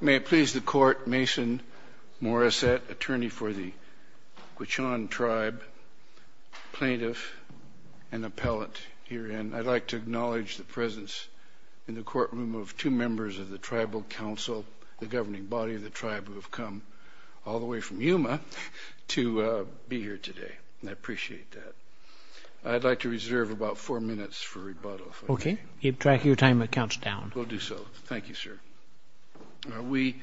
May it please the Court, Mason Morissette, attorney for the Gwich'in Tribe, plaintiff and appellate herein. I'd like to acknowledge the presence in the courtroom of two members of the Tribal Council, the governing body of the Tribe, who have come all the way from Yuma to be here today. I appreciate that. I'd like to reserve about four minutes for you to keep track of your time and count down. We'll do so. Thank you, sir. We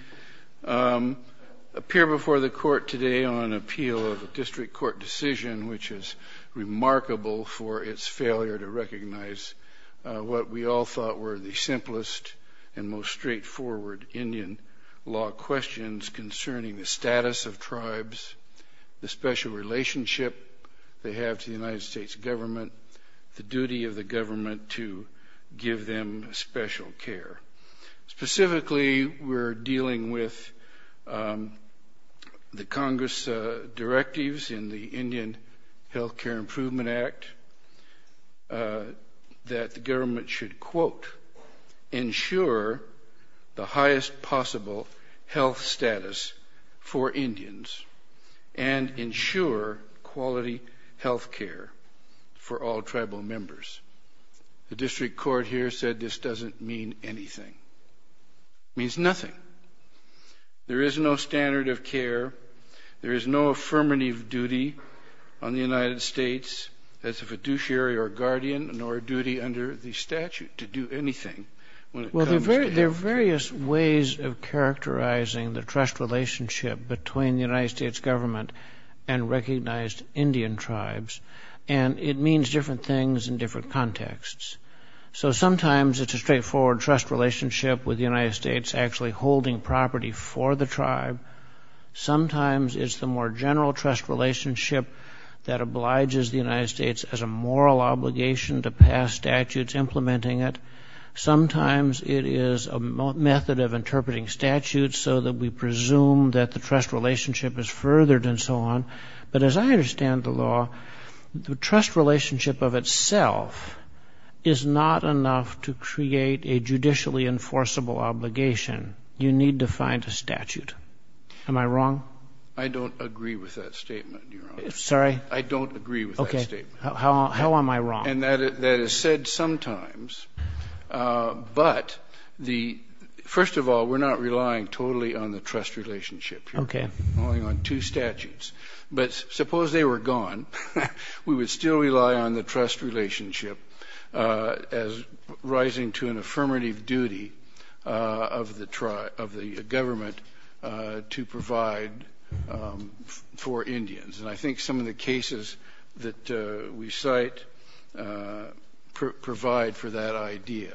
appear before the Court today on an appeal of a district court decision which is remarkable for its failure to recognize what we all thought were the simplest and most straightforward Indian law questions concerning the status of tribes, the special relationship they have to the tribe, and how to give them special care. Specifically, we're dealing with the Congress directives in the Indian Health Care Improvement Act that the government should, quote, ensure the highest possible health status for Indians and ensure quality health care for all Tribal members. The district court here said this doesn't mean anything. It means nothing. There is no standard of care. There is no affirmative duty on the United States as a fiduciary or guardian nor a duty under the statute to do anything when it comes to health care. There are various ways of characterizing the trust relationship between the United States government and recognized Indian tribes, and it means different things in different contexts. So sometimes it's a straightforward trust relationship with the United States actually holding property for the tribe. Sometimes it's the more general trust relationship that obliges the United States as a moral obligation to pass statutes implementing it. Sometimes it is a method of interpreting statutes so that we presume that the trust relationship is furthered and so on. But as I understand the law, the trust relationship of itself is not enough to create a judicially enforceable obligation. You need to find a statute. Am I wrong? I don't agree with that statement, Your Honor. Sorry? I don't agree with that statement. Okay. How am I wrong? And that is said sometimes, but the first of all, we're not relying totally on the trust relationship here. Okay. We're relying on two statutes. But suppose they were gone, we would still rely on the trust relationship as rising to an affirmative duty of the government to provide for Indians. And I think some of the cases that we cite provide for that idea.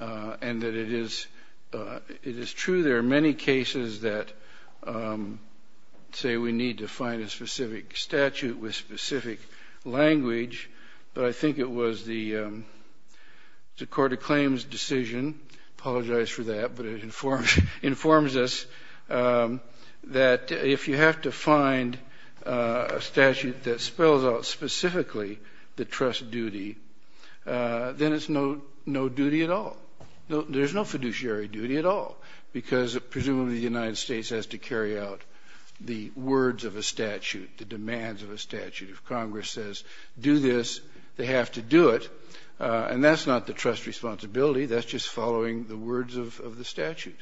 And that it is true there are many cases that say we need to find a specific statute with specific language, but I think it was the Court of Claims' decision, I apologize for that, but it informs us that if you have to find a statute that spells out specifically the trust duty, then it's no duty at all. There's no fiduciary duty at all, because presumably the United States has to carry out the words of a statute, the demands of a statute. If Congress says do this, they have to do it, and that's not the trust responsibility, that's just following the words of the statute.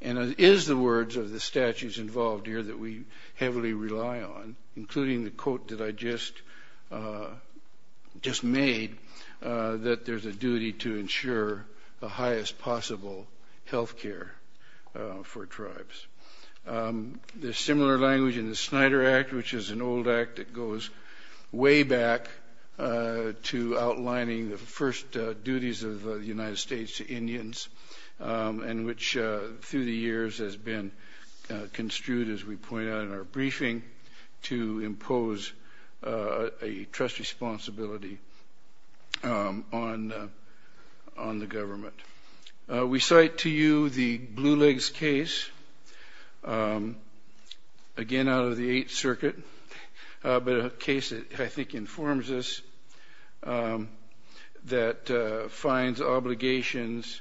And it is the words of the statutes involved here that we heavily rely on, including the quote that I just made, that there's a duty to ensure the highest possible health care for tribes. There's similar language in the Snyder Act, which is an old act that goes way back to outlining the first duties of the United States to Indians, and which through the years has been construed, as we point out in our briefing, to impose a trust responsibility on the government. We cite to you the Blue Legs case, again out of the Eighth Circuit, but a case that I think informs us that finds obligations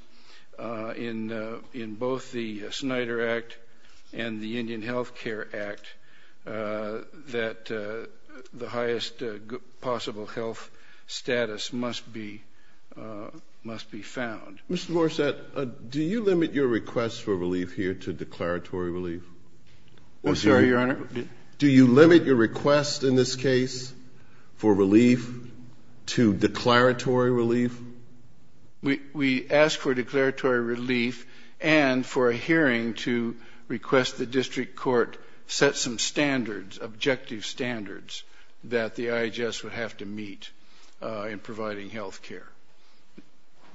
in both the Snyder Act and the Blue Legs case, and the Indian Health Care Act, that the highest possible health status must be found. Mr. Morissette, do you limit your request for relief here to declaratory relief? I'm sorry, Your Honor? Do you limit your request in this case for relief to declaratory relief? We ask for declaratory relief and for a hearing to request the district court set some standards, objective standards, that the IHS would have to meet in providing health care.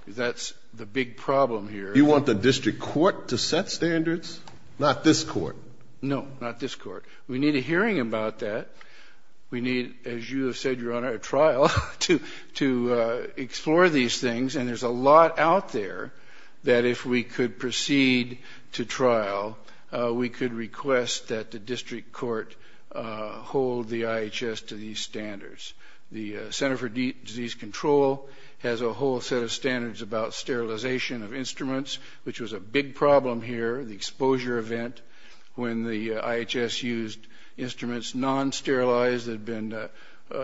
That's the big problem here. You want the district court to set standards, not this court? No, not this court. We need a hearing about that. We need, as you have said, Your Honor, a trial to explore these things, and there's a lot out there that if we could proceed to trial, we could request that the district court hold the IHS to these standards. The Center for Disease Control has a whole set of standards about sterilization of instruments, which was a big problem here, the exposure event, when the IHS used instruments non-sterilized that had been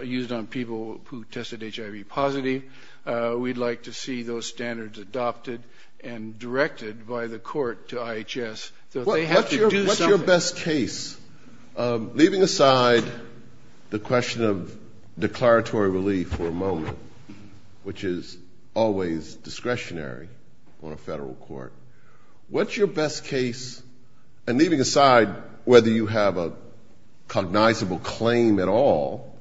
used on people who tested HIV positive. We'd like to see those standards adopted and directed by the court to IHS so that they have to do something. What's your best case? Leaving aside the question of declaratory relief for a moment, which is always discretionary on a federal court, what's your best case? And leaving aside whether you have a cognizable claim at all,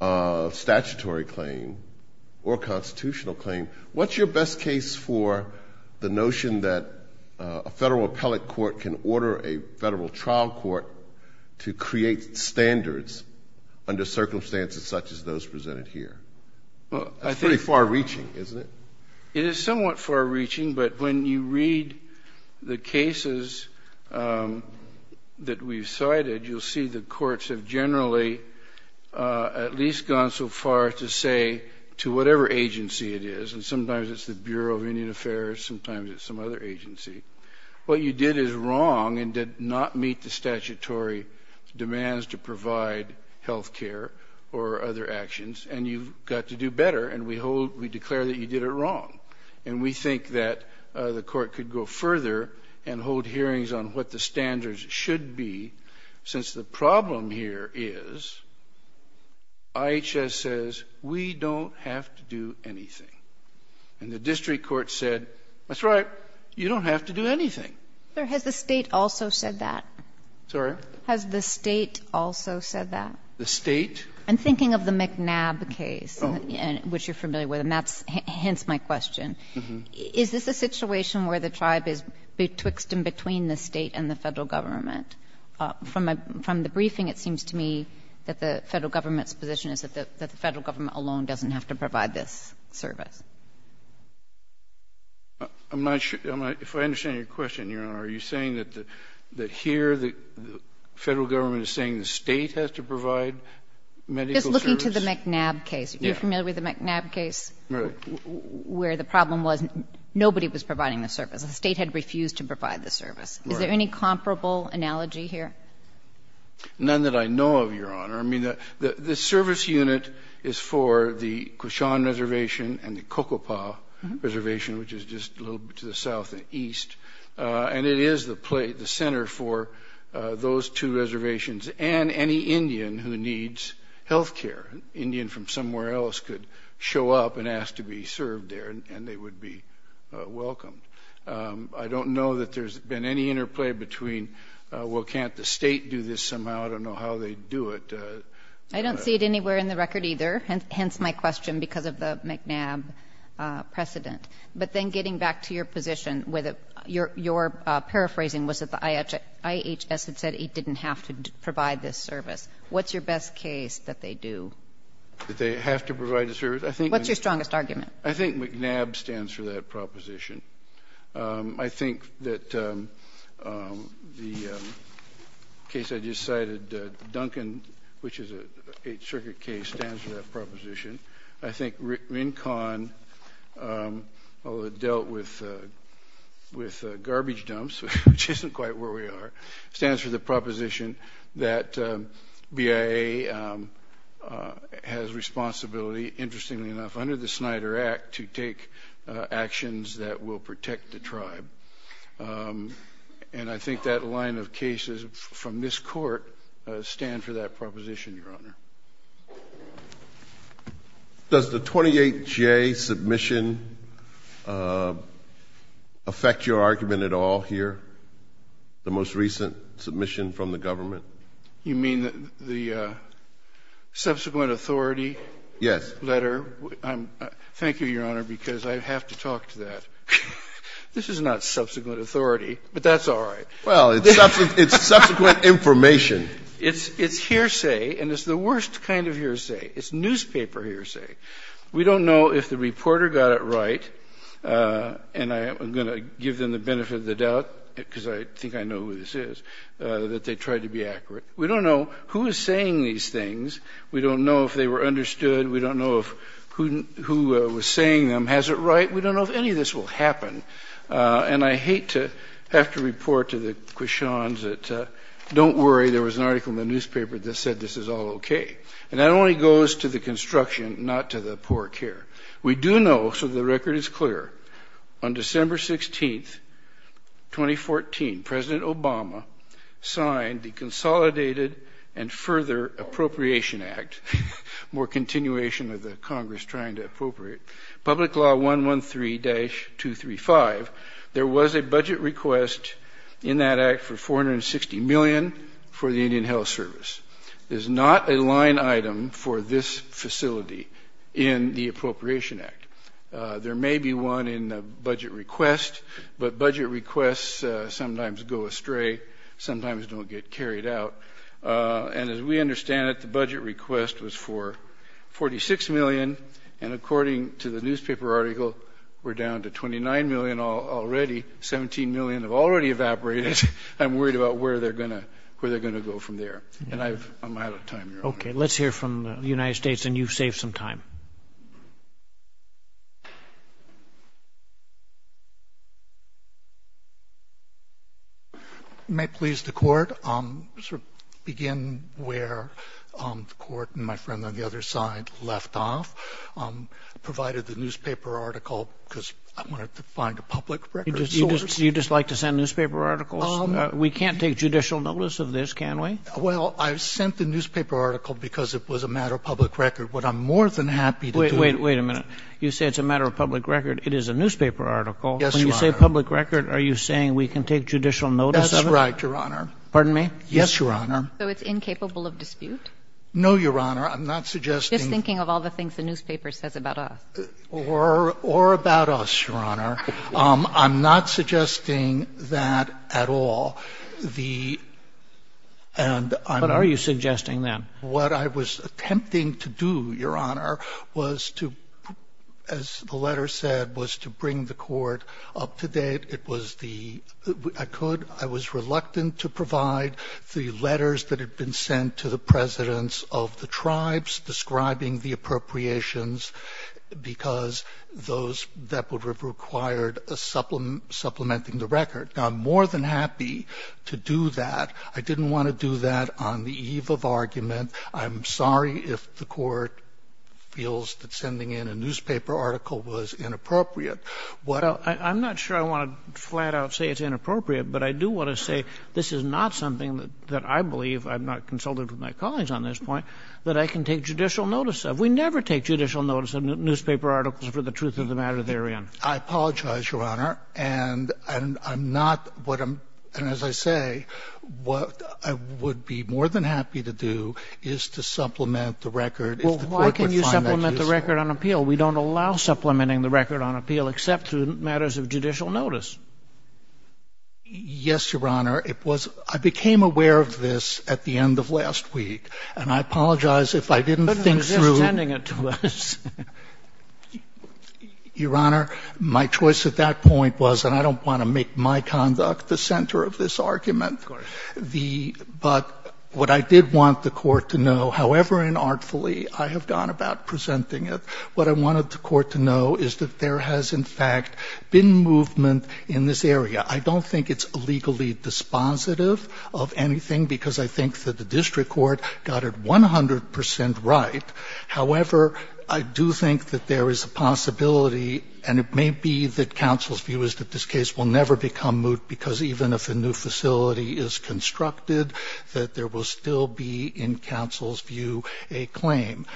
a statutory claim or a constitutional claim, what's your best case for the notion that a federal appellate court can order a federal trial court to create standards under circumstances such as those presented here? That's pretty far-reaching, isn't it? It is somewhat far-reaching, but when you read the cases that we've cited, you'll see the courts have generally at least gone so far to say to whatever agency it is, and sometimes it's the Bureau of Indian Affairs, sometimes it's some other agency, what you did is wrong and did not meet the statutory demands to provide health care or other actions, and you've got to do better, and we declare that you did it wrong. And we think that the court could go further and hold hearings on what the standards should be, since the problem here is IHS says, we don't have to do anything. And the district court said, that's right, you don't have to do anything. Has the State also said that? Sorry? Has the State also said that? The State? I'm thinking of the McNabb case, which you're familiar with, and that hints my question. Is this a situation where the tribe is betwixt and between the State and the Federal Government? From the briefing, it seems to me that the Federal Government's position is that the Federal Government alone doesn't have to provide this service. I'm not sure. If I understand your question, Your Honor, are you saying that here the Federal Government is saying the State has to provide medical service? Just looking to the McNabb case. Yeah. Are you familiar with the McNabb case? Right. Where the problem was nobody was providing the service. The State had refused to provide the service. Right. Is there any comparable analogy here? None that I know of, Your Honor. I mean, the service unit is for the Koshan Reservation and the Kokopah Reservation, which is just a little bit to the south and east, and it is the center for those two reservations and any Indian who needs health care. An Indian from somewhere else could show up and ask to be served there, and they would be welcomed. I don't know that there's been any interplay between, well, can't the State do this somehow? I don't know how they do it. I don't see it anywhere in the record either, hence my question because of the McNabb precedent. But then getting back to your position, your paraphrasing was that the IHS had said it didn't have to provide this service. What's your best case that they do? That they have to provide the service? I think they do. What's your strongest argument? I think McNabb stands for that proposition. I think that the case I just cited, Duncan, which is an Eighth Circuit case, stands for that proposition. I think Rincon that dealt with garbage dumps, which isn't quite where we are, stands for the proposition that BIA has responsibility, interestingly enough, under the Snyder Act to take actions that will protect the tribe. And I think that line of cases from this Court stand for that proposition, Your Honor. Does the 28J submission affect your argument at all here, the most recent submission from the government? You mean the subsequent authority? Letter? Thank you, Your Honor, because I have to talk to that. This is not subsequent authority, but that's all right. Well, it's subsequent information. It's hearsay, and it's the worst kind of hearsay. It's newspaper hearsay. We don't know if the reporter got it right, and I'm going to give them the benefit of the doubt, because I think I know who this is, that they tried to be accurate. We don't know who is saying these things. We don't know if they were understood. We don't know if who was saying them has it right. We don't know if any of this will happen. And I hate to have to report to the quichons that, don't worry, there was an article in the newspaper that said this is all okay. And that only goes to the construction, not to the poor care. We do know, so the record is clear, on December 16, 2014, President Obama signed the Consolidated and Further Appropriation Act, more continuation of the Congress trying to appropriate, Public Law 113-235, there was a budget request in that act for $460 million for the Indian Health Service. It is not a line item for this facility in the Appropriation Act. There may be one in the budget request, but budget requests sometimes go astray, sometimes don't get carried out. And as we understand it, the budget request was for $46 million, and according to the newspaper article, we're down to $29 million already, $17 million have already evaporated. I'm worried about where they're going to go from there. And I'm out of time, Your Honor. Okay, let's hear from the United States, and you've saved some time. May it please the Court, I'll begin where the Court and my friend on the other side left off, provided the newspaper article, because I wanted to find a public record source. Do you just like to send newspaper articles? We can't take judicial notice of this, can we? Well, I sent the newspaper article because it was a matter of public record. What I'm more than happy to do to you is to find a public record source. Wait a minute. You say it's a matter of public record. It is a newspaper article. Yes, Your Honor. When you say public record, are you saying we can take judicial notice of it? That's right, Your Honor. Pardon me? No, Your Honor. I'm not suggesting that it's incapable of dispute. Just thinking of all the things the newspaper says about us. Or about us, Your Honor. I'm not suggesting that at all. The — and I'm — What are you suggesting, then? What I was attempting to do, Your Honor, was to, as the letter said, was to bring the Court up to date. It was the — I could — I was reluctant to provide the letters that had been sent to the presidents of the tribes describing the appropriations because those — that would have required a supplementing the record. Now, I'm more than happy to do that. I didn't want to do that on the eve of argument. I'm sorry if the Court feels that sending in a newspaper article was inappropriate. What — Well, I'm not sure I want to flat-out say it's inappropriate, but I do want to say this is not something that I believe — I'm not consulted with my colleagues on this point — that I can take judicial notice of. We never take judicial notice of newspaper articles for the truth of the matter they're in. I apologize, Your Honor. And I'm not what I'm — and as I say, what I would be more than happy to do is to supplement the record if the Court would find that useful. Well, why can you supplement the record on appeal? We don't allow supplementing the record on appeal except through matters of judicial notice. Yes, Your Honor. It was — I became aware of this at the end of last week. And I apologize if I didn't think through — But it was just sending it to us. Your Honor, my choice at that point was — and I don't want to make my conduct the center of this argument. Of course. The — but what I did want the Court to know, however inartfully I have gone about presenting it, what I wanted the Court to know is that there has, in fact, been movement in this area. I don't think it's illegally dispositive of anything because I think that the district court got it 100 percent right. However, I do think that there is a possibility, and it may be that counsel's view is that this case will never become moot because even if a new facility is constructed, that there will still be, in counsel's view, a claim.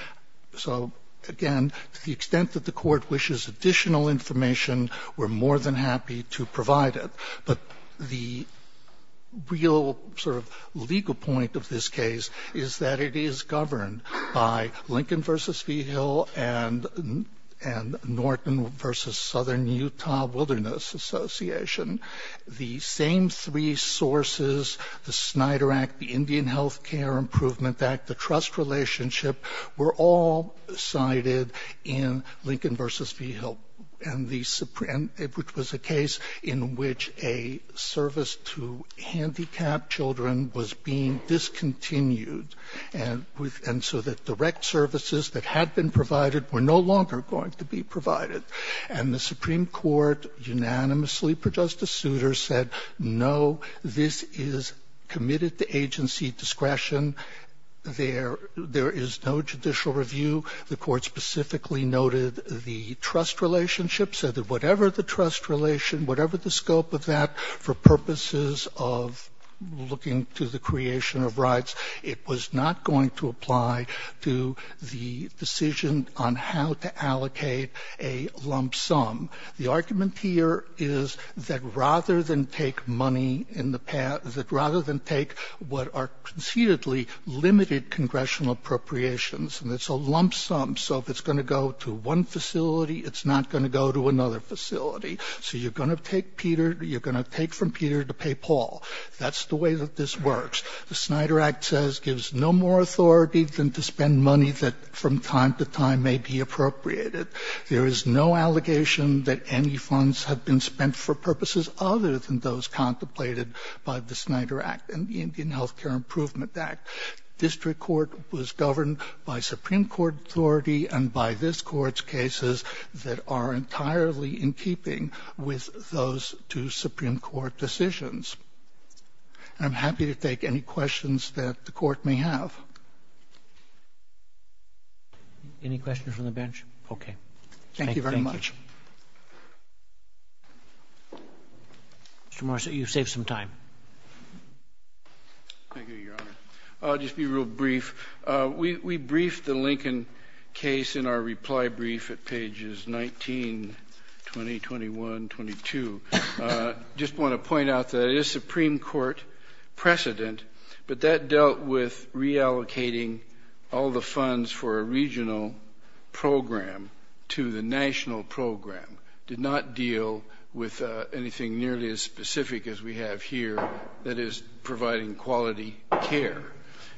So again, to the extent that the Court wishes additional information, we're more than happy to provide it. But the real sort of legal point of this case is that it is governed by Lincoln v. Vigil and Norton v. Southern Utah Wilderness Association. The same three sources, the Snyder Act, the Indian Health Care Improvement Act, the trust relationship, were all cited in Lincoln v. Vigil. And it was a case in which a service to handicapped children was being discontinued. And so the direct services that had been provided were no longer going to be provided. And the Supreme Court unanimously, per Justice Souter, said, no, this is committed to agency discretion. There is no judicial review. The Court specifically noted the trust relationship, said that whatever the trust relation, whatever the scope of that, for purposes of looking to the creation of rights, it was not going to apply to the decision on how to allocate a lump sum. The argument here is that rather than take money in the past – that rather than take what are concededly limited congressional appropriations, and it's a lump sum so if it's going to go to one facility, it's not going to go to another facility. So you're going to take from Peter to pay Paul. That's the way that this works. The Snyder Act says gives no more authority than to spend money that from time to time may be appropriated. There is no allegation that any funds have been spent for purposes other than those contemplated by the Snyder Act and the Indian Health Care Improvement Act. District Court was governed by Supreme Court authority and by this Court's cases that are entirely in keeping with those two Supreme Court decisions. I'm happy to take any questions that the Court may have. Any questions from the bench? Okay. Thank you very much. Mr. Marci, you've saved some time. Thank you, Your Honor. I'll just be real brief. We briefed the Lincoln case in our reply brief at pages 19, 20, 21, 22. I just want to point out that it is Supreme Court precedent, but that dealt with reallocating all the funds for a regional program to the national program, did not deal with anything nearly as specific as we have here that is providing quality care.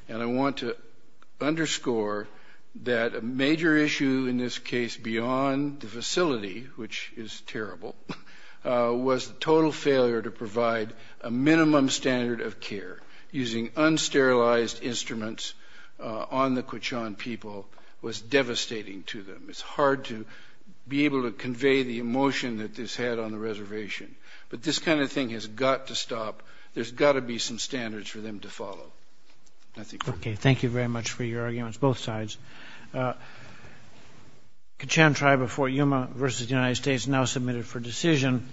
And I want to underscore that a major issue in this case beyond the facility, which is terrible, was the total failure to provide a minimum standard of care using unsterilized instruments on the Quachon people was devastating to them. It's hard to be able to convey the emotion that this had on the reservation. But this kind of thing has got to stop. There's got to be some standards for them to follow. Okay. Thank you very much for your arguments, both sides. Quachon Tribe of Fort Yuma v. United States now submitted for decision.